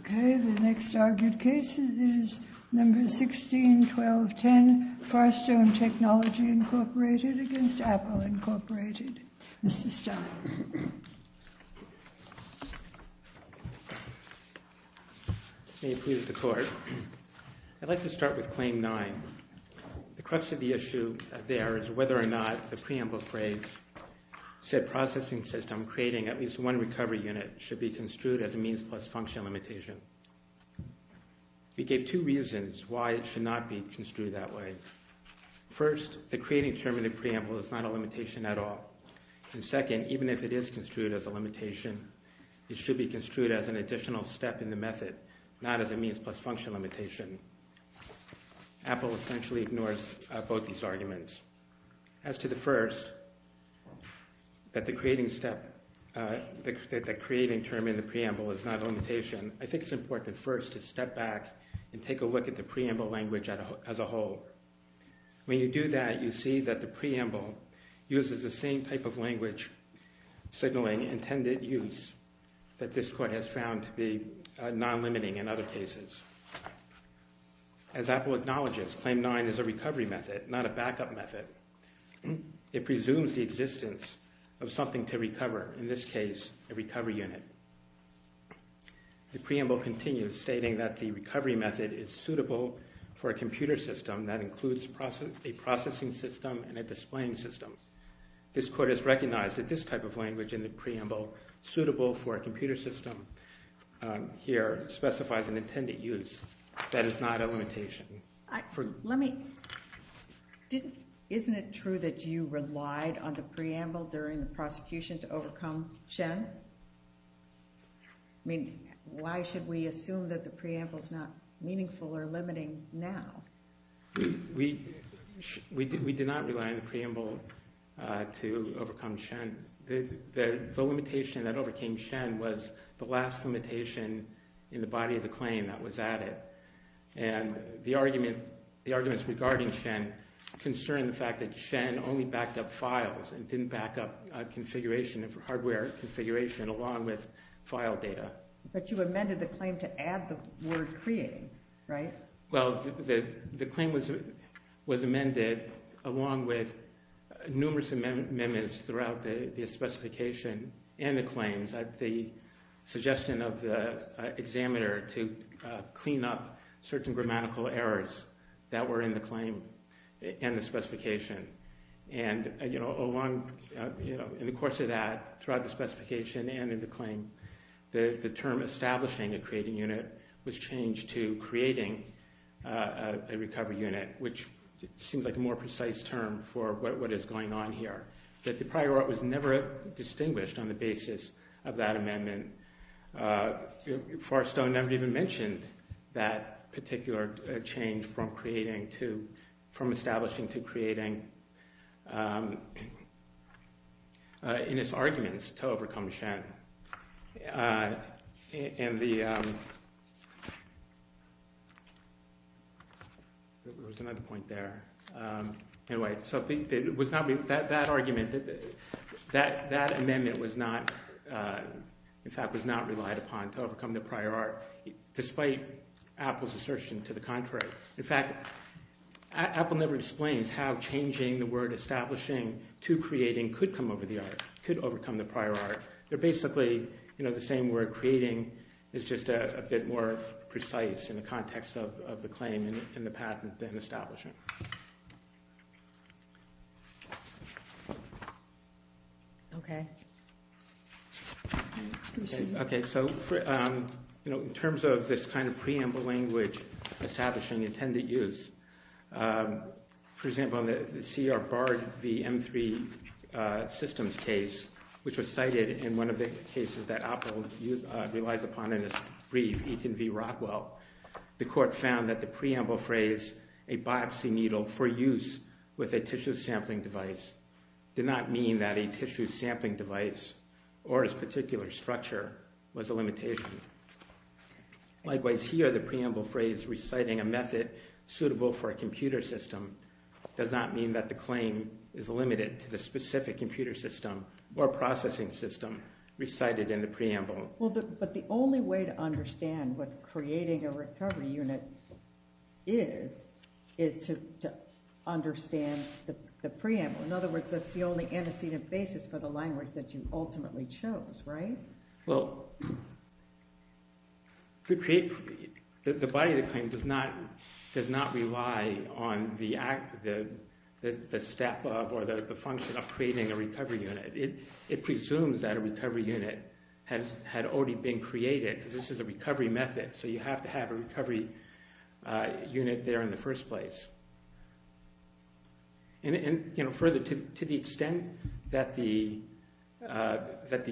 Okay, the next argued case is No. 16-12-10, Farstone Technology, Inc. v. Apple, Inc. Mr. Stein. May it please the Court. I'd like to start with Claim 9. The crux of the issue there is whether or not the preamble phrase said processing system creating at least one recovery unit should be construed as a means plus function limitation. We gave two reasons why it should not be construed that way. First, the creating term in the preamble is not a limitation at all. And second, even if it is construed as a limitation, it should be construed as an additional step in the method, not as a means plus function limitation. Apple essentially ignores both these arguments. As to the first, that the creating step, that the creating term in the preamble is not a limitation, I think it's important first to step back and take a look at the preamble language as a whole. When you do that, you see that the preamble uses the same type of language signaling intended use that this Court has found to be non-limiting in other cases. As Apple acknowledges, Claim 9 is a recovery method, not a backup method. It presumes the existence of something to recover, in this case, a recovery unit. The preamble continues, stating that the recovery method is suitable for a computer system that includes a processing system and a displaying system. This Court has recognized that this type of language in the preamble, suitable for a computer system here, specifies an intended use. That is not a limitation. Let me... Isn't it true that you relied on the preamble during the prosecution to overcome Shen? I mean, why should we assume that the preamble is not meaningful or limiting now? We did not rely on the preamble to overcome Shen. The limitation that overcame Shen was the last limitation in the body of the claim that was added. And the arguments regarding Shen concern the fact that Shen only backed up files and didn't back up hardware configuration, along with file data. But you amended the claim to add the word creating, right? Well, the claim was amended along with numerous amendments throughout the specification and the claims. The suggestion of the examiner to clean up certain grammatical errors that were in the claim and the specification. And, you know, along... In the course of that, throughout the specification and in the claim, the term establishing a creating unit was changed to creating a recovery unit, which seems like a more precise term for what is going on here. But the prior art was never distinguished on the basis of that amendment. Forrestone never even mentioned that particular change from establishing to creating in its arguments to overcome Shen. There was another point there. Anyway, so that argument, that amendment was not... in fact, was not relied upon to overcome the prior art, despite Apple's assertion to the contrary. In fact, Apple never explains how changing the word establishing to creating could come over the art, could overcome the prior art. They're basically, you know, the same word. Creating is just a bit more precise in the context of the claim and the patent than establishing. Okay. Okay, so, you know, in terms of this kind of preamble language establishing intended use, for example, in the C.R. Bard v. M3 systems case, which was cited in one of the cases that Apple relies upon in its brief Eton v. Rockwell, the court found that the preamble phrase a biopsy needle for use with a tissue sampling device did not mean that a tissue sampling device or its particular structure was a limitation. Likewise, here, the preamble phrase reciting a method suitable for a computer system does not mean that the claim is limited to the specific computer system or processing system recited in the preamble. Well, but the only way to understand what creating a recovery unit is is to understand the preamble. In other words, that's the only antecedent basis for the language that you ultimately chose, right? Well, the body of the claim does not rely on the act, the step of or the function of creating a recovery unit. It presumes that a recovery unit had already been created because this is a recovery method, so you have to have a recovery unit there in the first place. And further, to the extent that the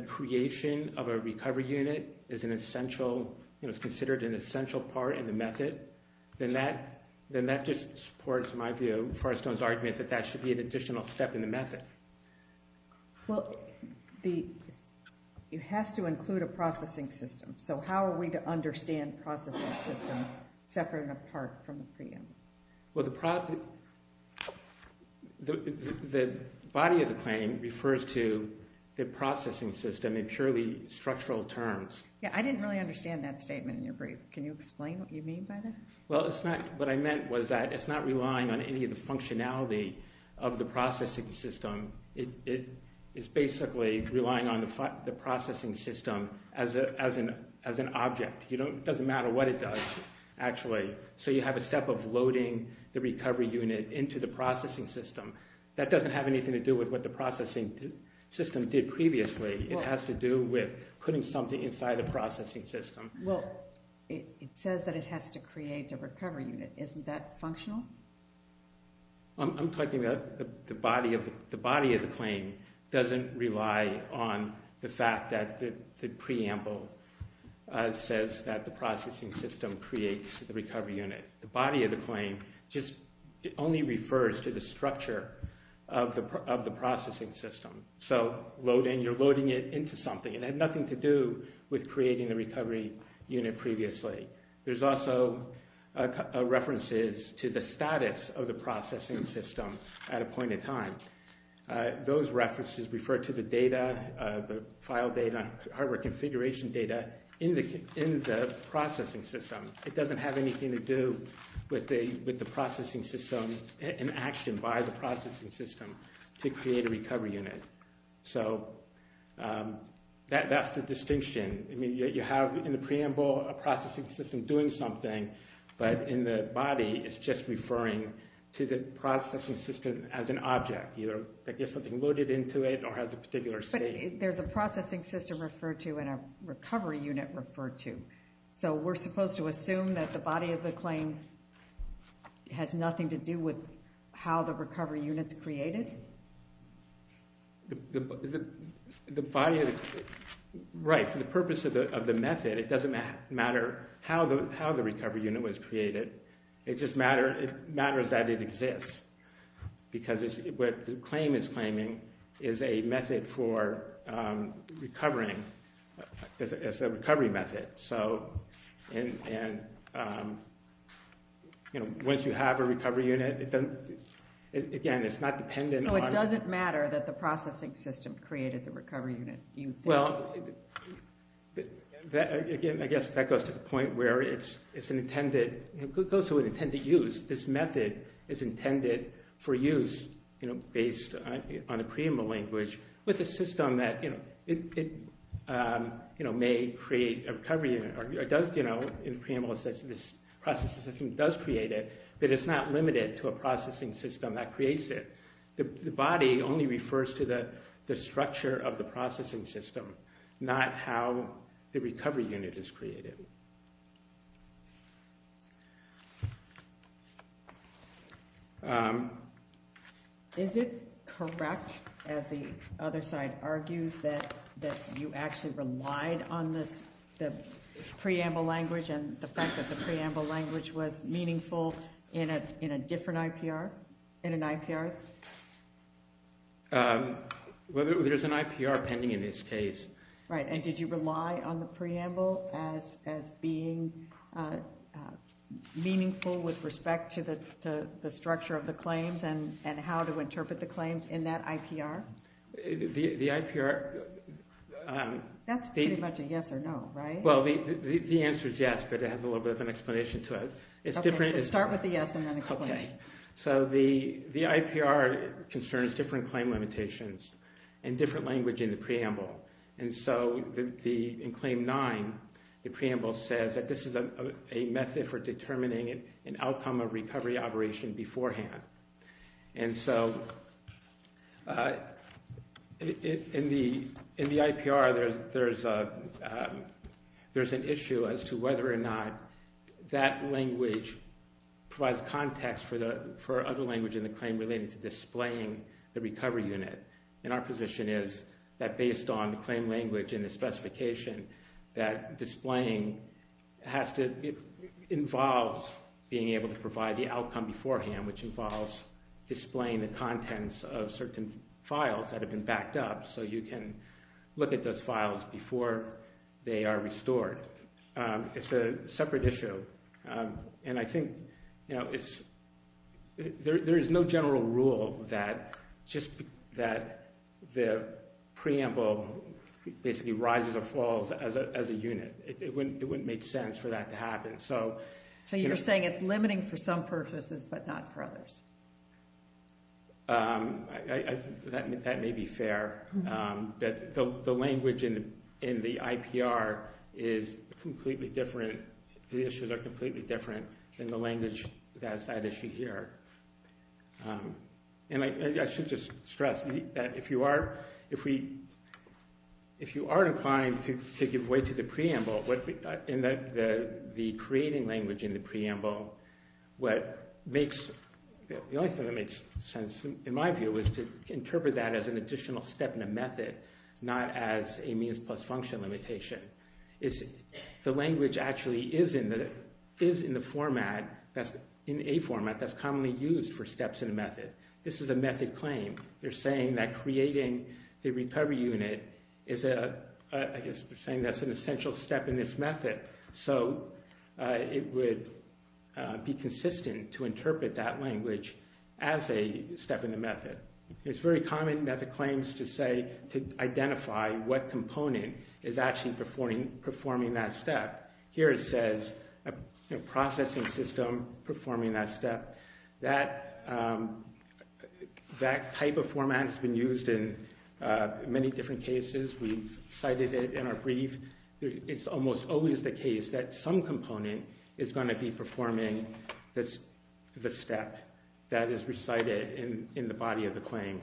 creation of a recovery unit is considered an essential part in the method, then that just supports, in my view, Forrestone's argument that that should be an additional step in the method. Well, it has to include a processing system, so how are we to understand processing system separate and apart from the preamble? Well, the body of the claim refers to the processing system in purely structural terms. Yeah, I didn't really understand that statement in your brief. Can you explain what you mean by that? Well, what I meant was that it's not relying on any of the functionality of the processing system. It is basically relying on the processing system as an object. It doesn't matter what it does, actually. So you have a step of loading the recovery unit into the processing system. That doesn't have anything to do with what the processing system did previously. It has to do with putting something inside the processing system. Well, it says that it has to create a recovery unit. Isn't that functional? I'm talking about the body of the claim doesn't rely on the fact that the preamble says that the processing system creates the recovery unit. The body of the claim just only refers to the structure of the processing system. So you're loading it into something. It had nothing to do with creating the recovery unit previously. There's also references to the status of the processing system at a point in time. Those references refer to the data, the file data, hardware configuration data, in the processing system. It doesn't have anything to do with the processing system in action by the processing system to create a recovery unit. So that's the distinction. I mean, you have in the preamble a processing system doing something, but in the body it's just referring to the processing system as an object, either that gets something loaded into it or has a particular state. But there's a processing system referred to and a recovery unit referred to. So we're supposed to assume that the body of the claim has nothing to do with how the recovery unit's created? Right, for the purpose of the method, it doesn't matter how the recovery unit was created. It just matters that it exists because what the claim is claiming is a method for recovering. It's a recovery method. And once you have a recovery unit, again, it's not dependent on... So it doesn't matter that the processing system created the recovery unit, you think? Well, again, I guess that goes to the point where it goes to an intended use. This method is intended for use based on a preamble language with a system that may create a recovery unit. In the preamble, it says this processing system does create it, but it's not limited to a processing system that creates it. The body only refers to the structure of the processing system, not how the recovery unit is created. Is it correct, as the other side argues, that you actually relied on this preamble language and the fact that the preamble language was meaningful in a different IPR? In an IPR? Well, there's an IPR pending in this case. Right, and did you rely on the preamble as being meaningful with respect to the structure of the claims and how to interpret the claims in that IPR? The IPR... That's pretty much a yes or no, right? Well, the answer is yes, but it has a little bit of an explanation to it. Okay, so start with the yes and then explain. So the IPR concerns different claim limitations and different language in the preamble. And so in Claim 9, the preamble says that this is a method for determining an outcome of recovery operation beforehand. And so in the IPR, there's an issue as to whether or not that language provides context for other language in the claim related to displaying the recovery unit. And our position is that based on the claim language and the specification, that displaying involves being able to provide the outcome beforehand, which involves displaying the contents of certain files that have been backed up. So you can look at those files before they are restored. It's a separate issue. And I think there is no general rule that the preamble basically rises or falls as a unit. It wouldn't make sense for that to happen. So you're saying it's limiting for some purposes but not for others? That may be fair. The language in the IPR is completely different. The issues are completely different than the language that's at issue here. And I should just stress that if you are inclined to give way to the preamble, in the creating language in the preamble, the only thing that makes sense in my view is to interpret that as an additional step in a method, not as a means plus function limitation. The language actually is in the format, in a format that's commonly used for steps in a method. This is a method claim. They're saying that creating the recovery unit is an essential step in this method. So it would be consistent to interpret that language as a step in a method. It's very common in method claims to say, to identify what component is actually performing that step. Here it says a processing system performing that step. That type of format has been used in many different cases. We've cited it in our brief. It's almost always the case that some component is going to be performing the step that is recited in the body of the claim.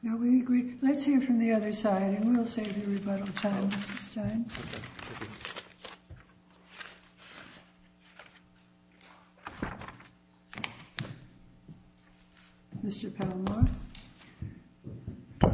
Now we agree. Let's hear from the other side, and we'll save you rebuttal time, Mr. Stein. Mr. Palmore.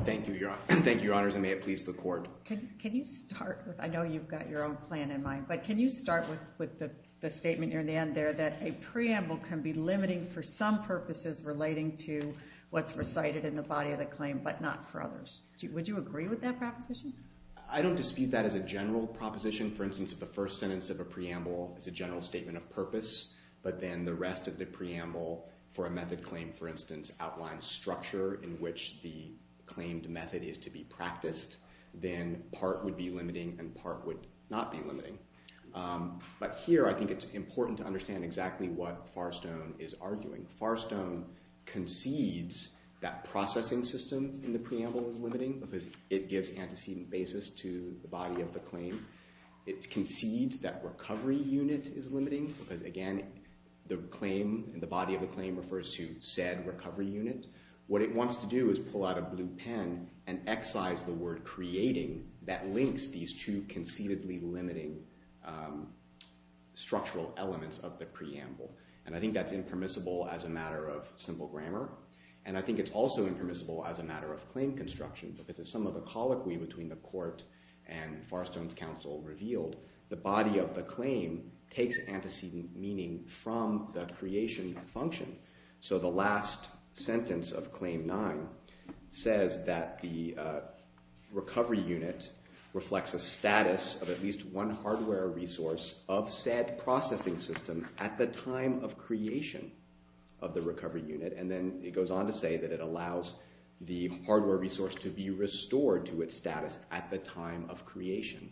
Thank you, Your Honor. Thank you, Your Honors, and may it please the Court. Can you start with, I know you've got your own plan in mind, but can you start with the statement near the end there that a preamble can be limiting for some purposes relating to what's recited in the body of the claim but not for others? Would you agree with that proposition? I don't dispute that as a general proposition. For instance, if the first sentence of a preamble is a general statement of purpose, but then the rest of the preamble for a method claim, for instance, outlines structure in which the claimed method is to be practiced, then part would be limiting and part would not be limiting. But here I think it's important to understand exactly what Farstone is arguing. Farstone concedes that processing system in the preamble is limiting because it gives antecedent basis to the body of the claim. It concedes that recovery unit is limiting because, again, the claim, the body of the claim refers to said recovery unit. What it wants to do is pull out a blue pen and excise the word creating that links these two conceitedly limiting structural elements of the preamble. And I think that's impermissible as a matter of simple grammar. And I think it's also impermissible as a matter of claim construction because as some of the colloquy between the court and Farstone's counsel revealed, the body of the claim takes antecedent meaning from the creation function. So the last sentence of Claim 9 says that the recovery unit reflects a status of at least one hardware resource of said processing system at the time of creation of the recovery unit. And then it goes on to say that it allows the hardware resource to be restored to its status at the time of creation.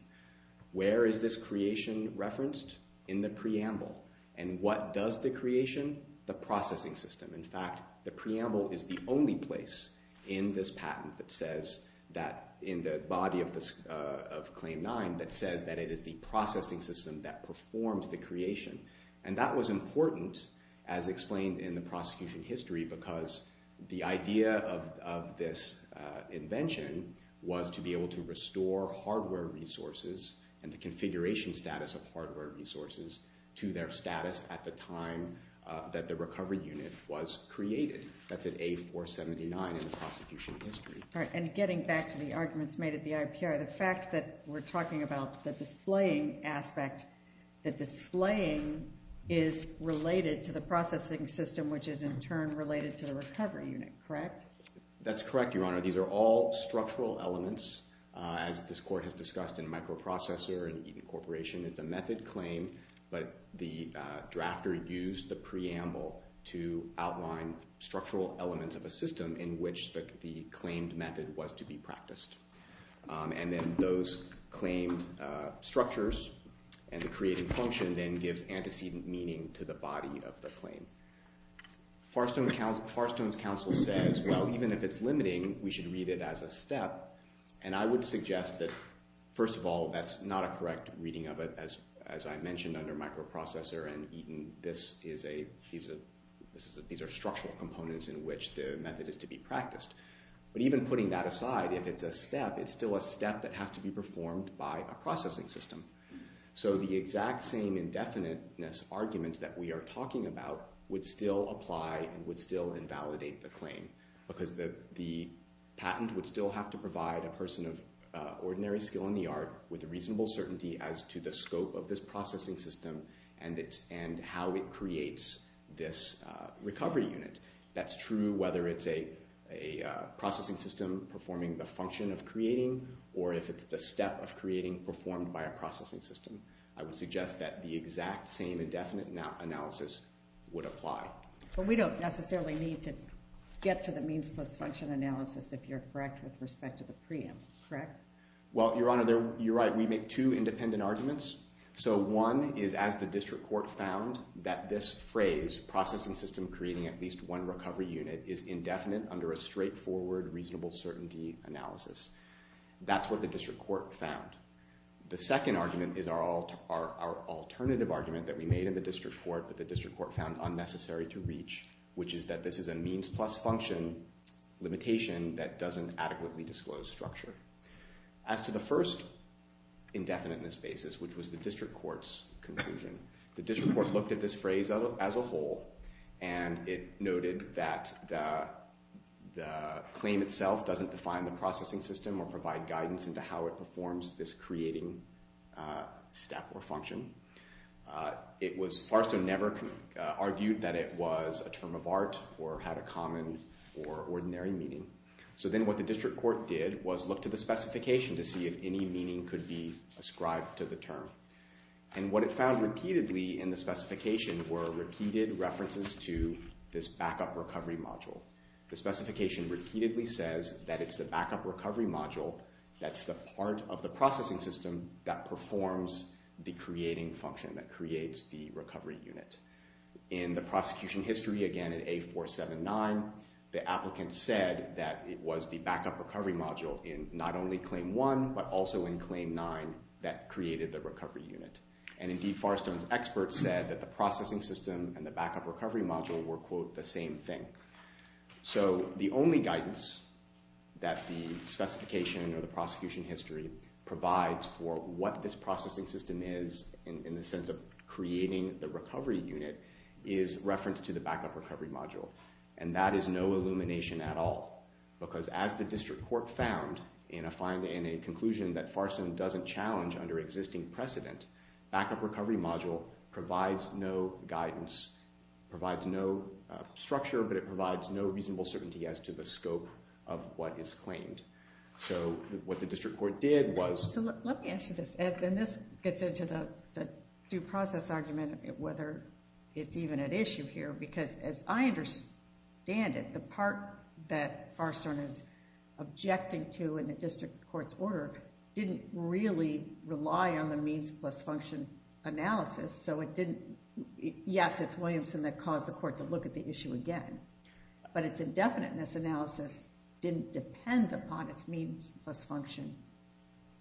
Where is this creation referenced? In the preamble. And what does the creation, the processing system. In fact, the preamble is the only place in this patent that says that in the body of Claim 9 that says that it is the processing system that performs the creation. And that was important as explained in the prosecution history because the idea of this invention was to be able to restore hardware resources and the configuration status of hardware resources to their status at the time that the recovery unit was created. That's at A-479 in the prosecution history. And getting back to the arguments made at the IPR, the fact that we're talking about the displaying aspect, the displaying is related to the processing system which is in turn related to the recovery unit, correct? That's correct, Your Honor. These are all structural elements as this court has discussed in microprocessor and Eaton Corporation. It's a method claim, but the drafter used the preamble to outline structural elements of a system in which the claimed method was to be practiced. And then those claimed structures and the creating function then gives antecedent meaning to the body of the claim. Farstone's counsel says, well, even if it's limiting, we should read it as a step. And I would suggest that, first of all, that's not a correct reading of it. As I mentioned under microprocessor and Eaton, these are structural components in which the method is to be practiced. But even putting that aside, if it's a step, it's still a step that has to be performed by a processing system. So the exact same indefiniteness argument that we are talking about would still apply and would still invalidate the claim because the patent would still have to provide a person of ordinary skill in the art with reasonable certainty as to the scope of this processing system and how it creates this recovery unit. That's true whether it's a processing system performing the function of creating or if it's the step of creating performed by a processing system. I would suggest that the exact same indefinite analysis would apply. But we don't necessarily need to get to the means-plus-function analysis, if you're correct with respect to the preempt, correct? Well, Your Honor, you're right. We make two independent arguments. So one is as the district court found that this phrase, processing system creating at least one recovery unit, is indefinite under a straightforward, reasonable certainty analysis. That's what the district court found. The second argument is our alternative argument that we made in the district court that the district court found unnecessary to reach, which is that this is a means-plus-function limitation that doesn't adequately disclose structure. As to the first indefiniteness basis, which was the district court's conclusion, the district court looked at this phrase as a whole, and it noted that the claim itself doesn't define the processing system or provide guidance into how it performs this creating step or function. It was far so never argued that it was a term of art or had a common or ordinary meaning. So then what the district court did was look to the specification to see if any meaning could be ascribed to the term. And what it found repeatedly in the specification were repeated references to this backup recovery module. The specification repeatedly says that it's the backup recovery module that's the part of the processing system that performs the creating function, that creates the recovery unit. In the prosecution history, again, in A479, the applicant said that it was the backup recovery module in not only Claim 1 but also in Claim 9 that created the recovery unit. And indeed, Farrstone's experts said that the processing system and the backup recovery module were, quote, the same thing. So the only guidance that the specification or the prosecution history provides for what this processing system is in the sense of creating the recovery unit is reference to the backup recovery module. And that is no illumination at all because as the district court found in a conclusion that Farrstone doesn't challenge under existing precedent, backup recovery module provides no guidance, provides no structure, but it provides no reasonable certainty as to the scope of what is claimed. So what the district court did was... So let me ask you this. And this gets into the due process argument of whether it's even at issue here because as I understand it, the part that Farrstone is objecting to in the district court's order didn't really rely on the means plus function analysis, so it didn't... Yes, it's Williamson that caused the court to look at the issue again, but its indefiniteness analysis didn't depend upon its means plus function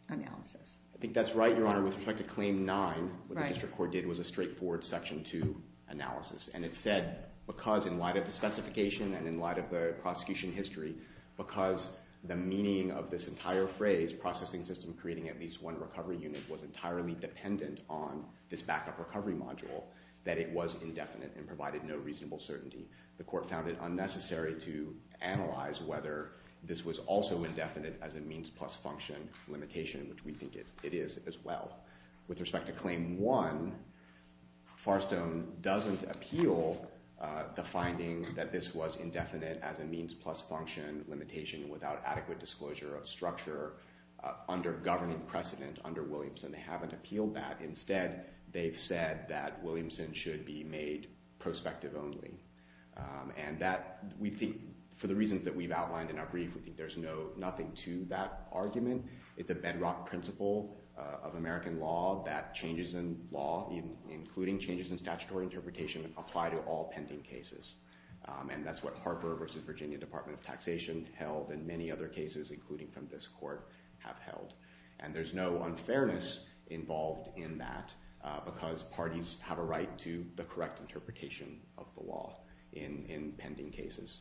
analysis. I think that's right, Your Honor. With respect to Claim 9, what the district court did was a straightforward Section 2 analysis. And it said because in light of the specification and in light of the prosecution history, because the meaning of this entire phrase, processing system creating at least one recovery unit, was entirely dependent on this backup recovery module, that it was indefinite and provided no reasonable certainty. The court found it unnecessary to analyze whether this was also indefinite as a means plus function limitation, which we think it is as well. With respect to Claim 1, Farrstone doesn't appeal the finding that this was indefinite as a means plus function limitation without adequate disclosure of structure under governing precedent under Williamson. They haven't appealed that. Instead, they've said that Williamson should be made prospective only. And that, we think, for the reasons that we've outlined in our brief, we think there's nothing to that argument. It's a bedrock principle of American law that changes in law, including changes in statutory interpretation, apply to all pending cases. And that's what Harper v. Virginia Department of Taxation held and many other cases, including from this court, have held. And there's no unfairness involved in that because parties have a right to the correct interpretation of the law in pending cases.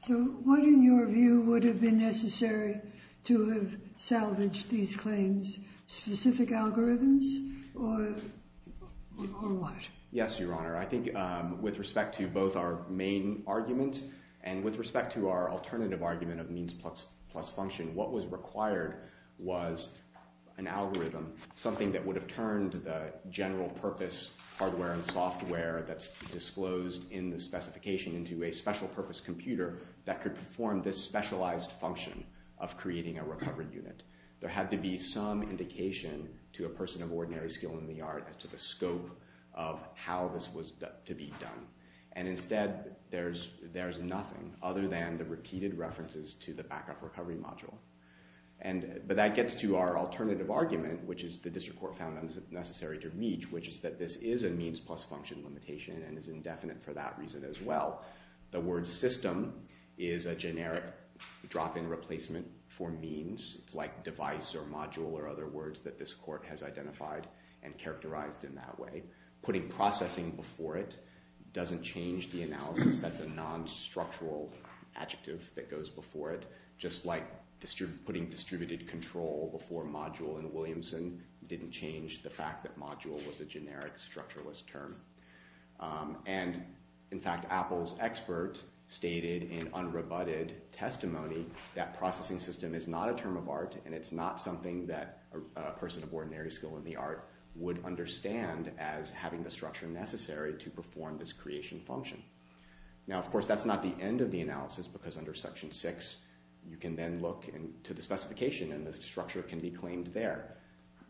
So what, in your view, would have been necessary to have salvaged these claims? Specific algorithms or what? Yes, Your Honor. I think with respect to both our main argument and with respect to our alternative argument of means plus function, what was required was an algorithm, something that would have turned the general-purpose hardware and software that's disclosed in the specification into a special-purpose computer that could perform this specialized function of creating a recovery unit. There had to be some indication to a person of ordinary skill in the art as to the scope of how this was to be done. And instead, there's nothing other than the repeated references to the backup recovery module. But that gets to our alternative argument, which is the district court found unnecessary to reach, which is that this is a means plus function limitation and is indefinite for that reason as well. The word system is a generic drop-in replacement for means. It's like device or module or other words that this court has identified and characterized in that way. Putting processing before it doesn't change the analysis. That's a non-structural adjective that goes before it, just like putting distributed control before module in Williamson didn't change the fact that module was a generic structuralist term. And, in fact, Apple's expert stated in unrebutted testimony that processing system is not a term of art and it's not something that a person of ordinary skill in the art would understand as having the structure necessary to perform this creation function. Now, of course, that's not the end of the analysis because under Section 6, you can then look to the specification and the structure can be claimed there.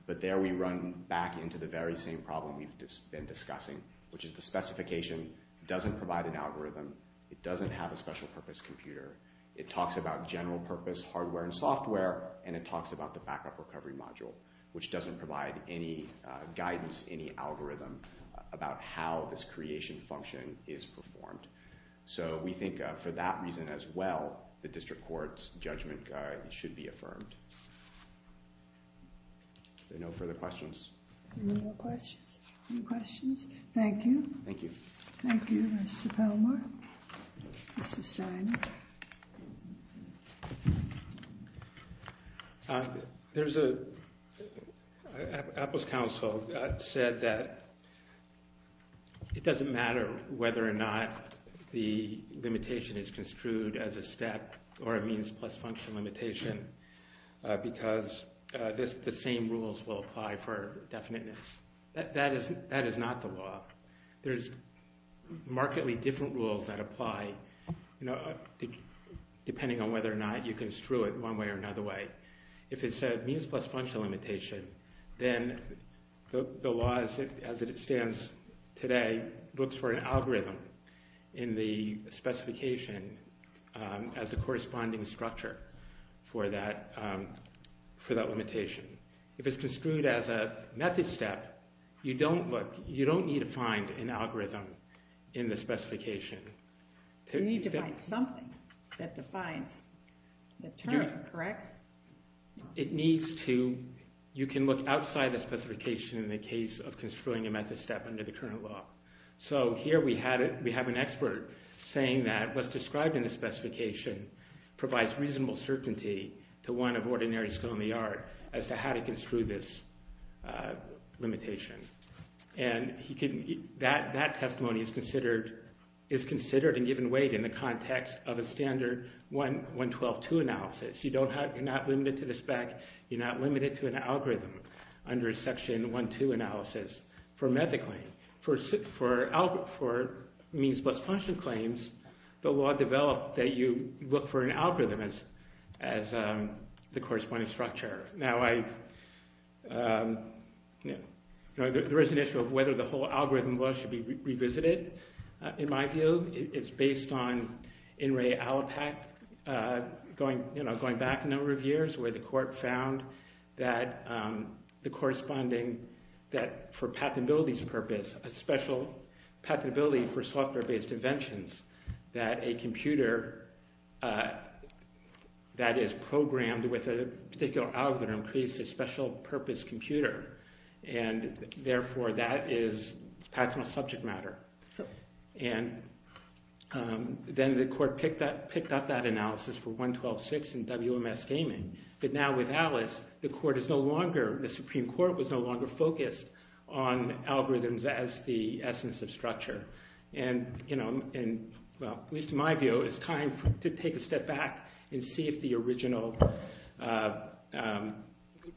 But there we run back into the very same problem we've been discussing, which is the specification doesn't provide an algorithm, it doesn't have a special-purpose computer, it talks about general-purpose hardware and software, and it talks about the backup recovery module, which doesn't provide any guidance, any algorithm, about how this creation function is performed. So we think, for that reason as well, the district court's judgment guide should be affirmed. Are there no further questions? Any more questions? Any questions? Thank you. Thank you. Thank you, Mr. Palmar. Mr. Steiner. There's a... Apple's counsel said that it doesn't matter whether or not the limitation is construed as a step or a means-plus-function limitation because the same rules will apply for definiteness. That is not the law. There's markedly different rules that apply, depending on whether or not you construe it one way or another way. If it's a means-plus-function limitation, then the law, as it stands today, looks for an algorithm in the specification as the corresponding structure for that limitation. If it's construed as a method step, you don't need to find an algorithm in the specification. You need to find something that defines the term, correct? It needs to... You can look outside the specification in the case of construing a method step under the current law. So here we have an expert saying that what's described in the specification provides reasonable certainty to one of ordinary school-in-the-art as to how to construe this limitation. And that testimony is considered and given weight in the context of a standard 112-2 analysis. You're not limited to the spec. You're not limited to an algorithm under a section 1-2 analysis for a method claim. For means-plus-function claims, the law developed that you look for an algorithm as the corresponding structure. Now, there is an issue of whether the whole algorithm law should be revisited. In my view, it's based on N. Ray Allipak, going back a number of years, where the court found that the corresponding... that for patentability's purpose, a special patentability for software-based inventions, that a computer that is programmed with a particular algorithm creates a special-purpose computer. And therefore, that is patentable subject matter. And then the court picked up that analysis for 112-6 in WMS Gaming. But now with Alice, the court is no longer... the Supreme Court was no longer focused on algorithms as the essence of structure. And, you know, at least in my view, it's time to take a step back and see if the original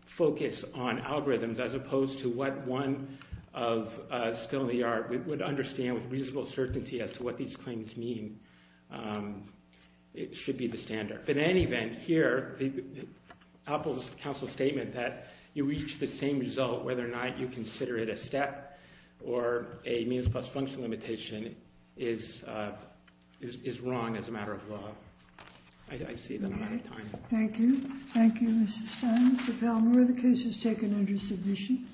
focus on algorithms, as opposed to what one of Still in the Art would understand with reasonable certainty as to what these claims mean, should be the standard. In any event, here, Apple's counsel's statement that you reach the same result whether or not you consider it a step or a means-plus-function limitation is wrong as a matter of law. I see that I'm out of time. Thank you. Thank you, Mr. Stein. Mr. Palmore, the case is taken under submission.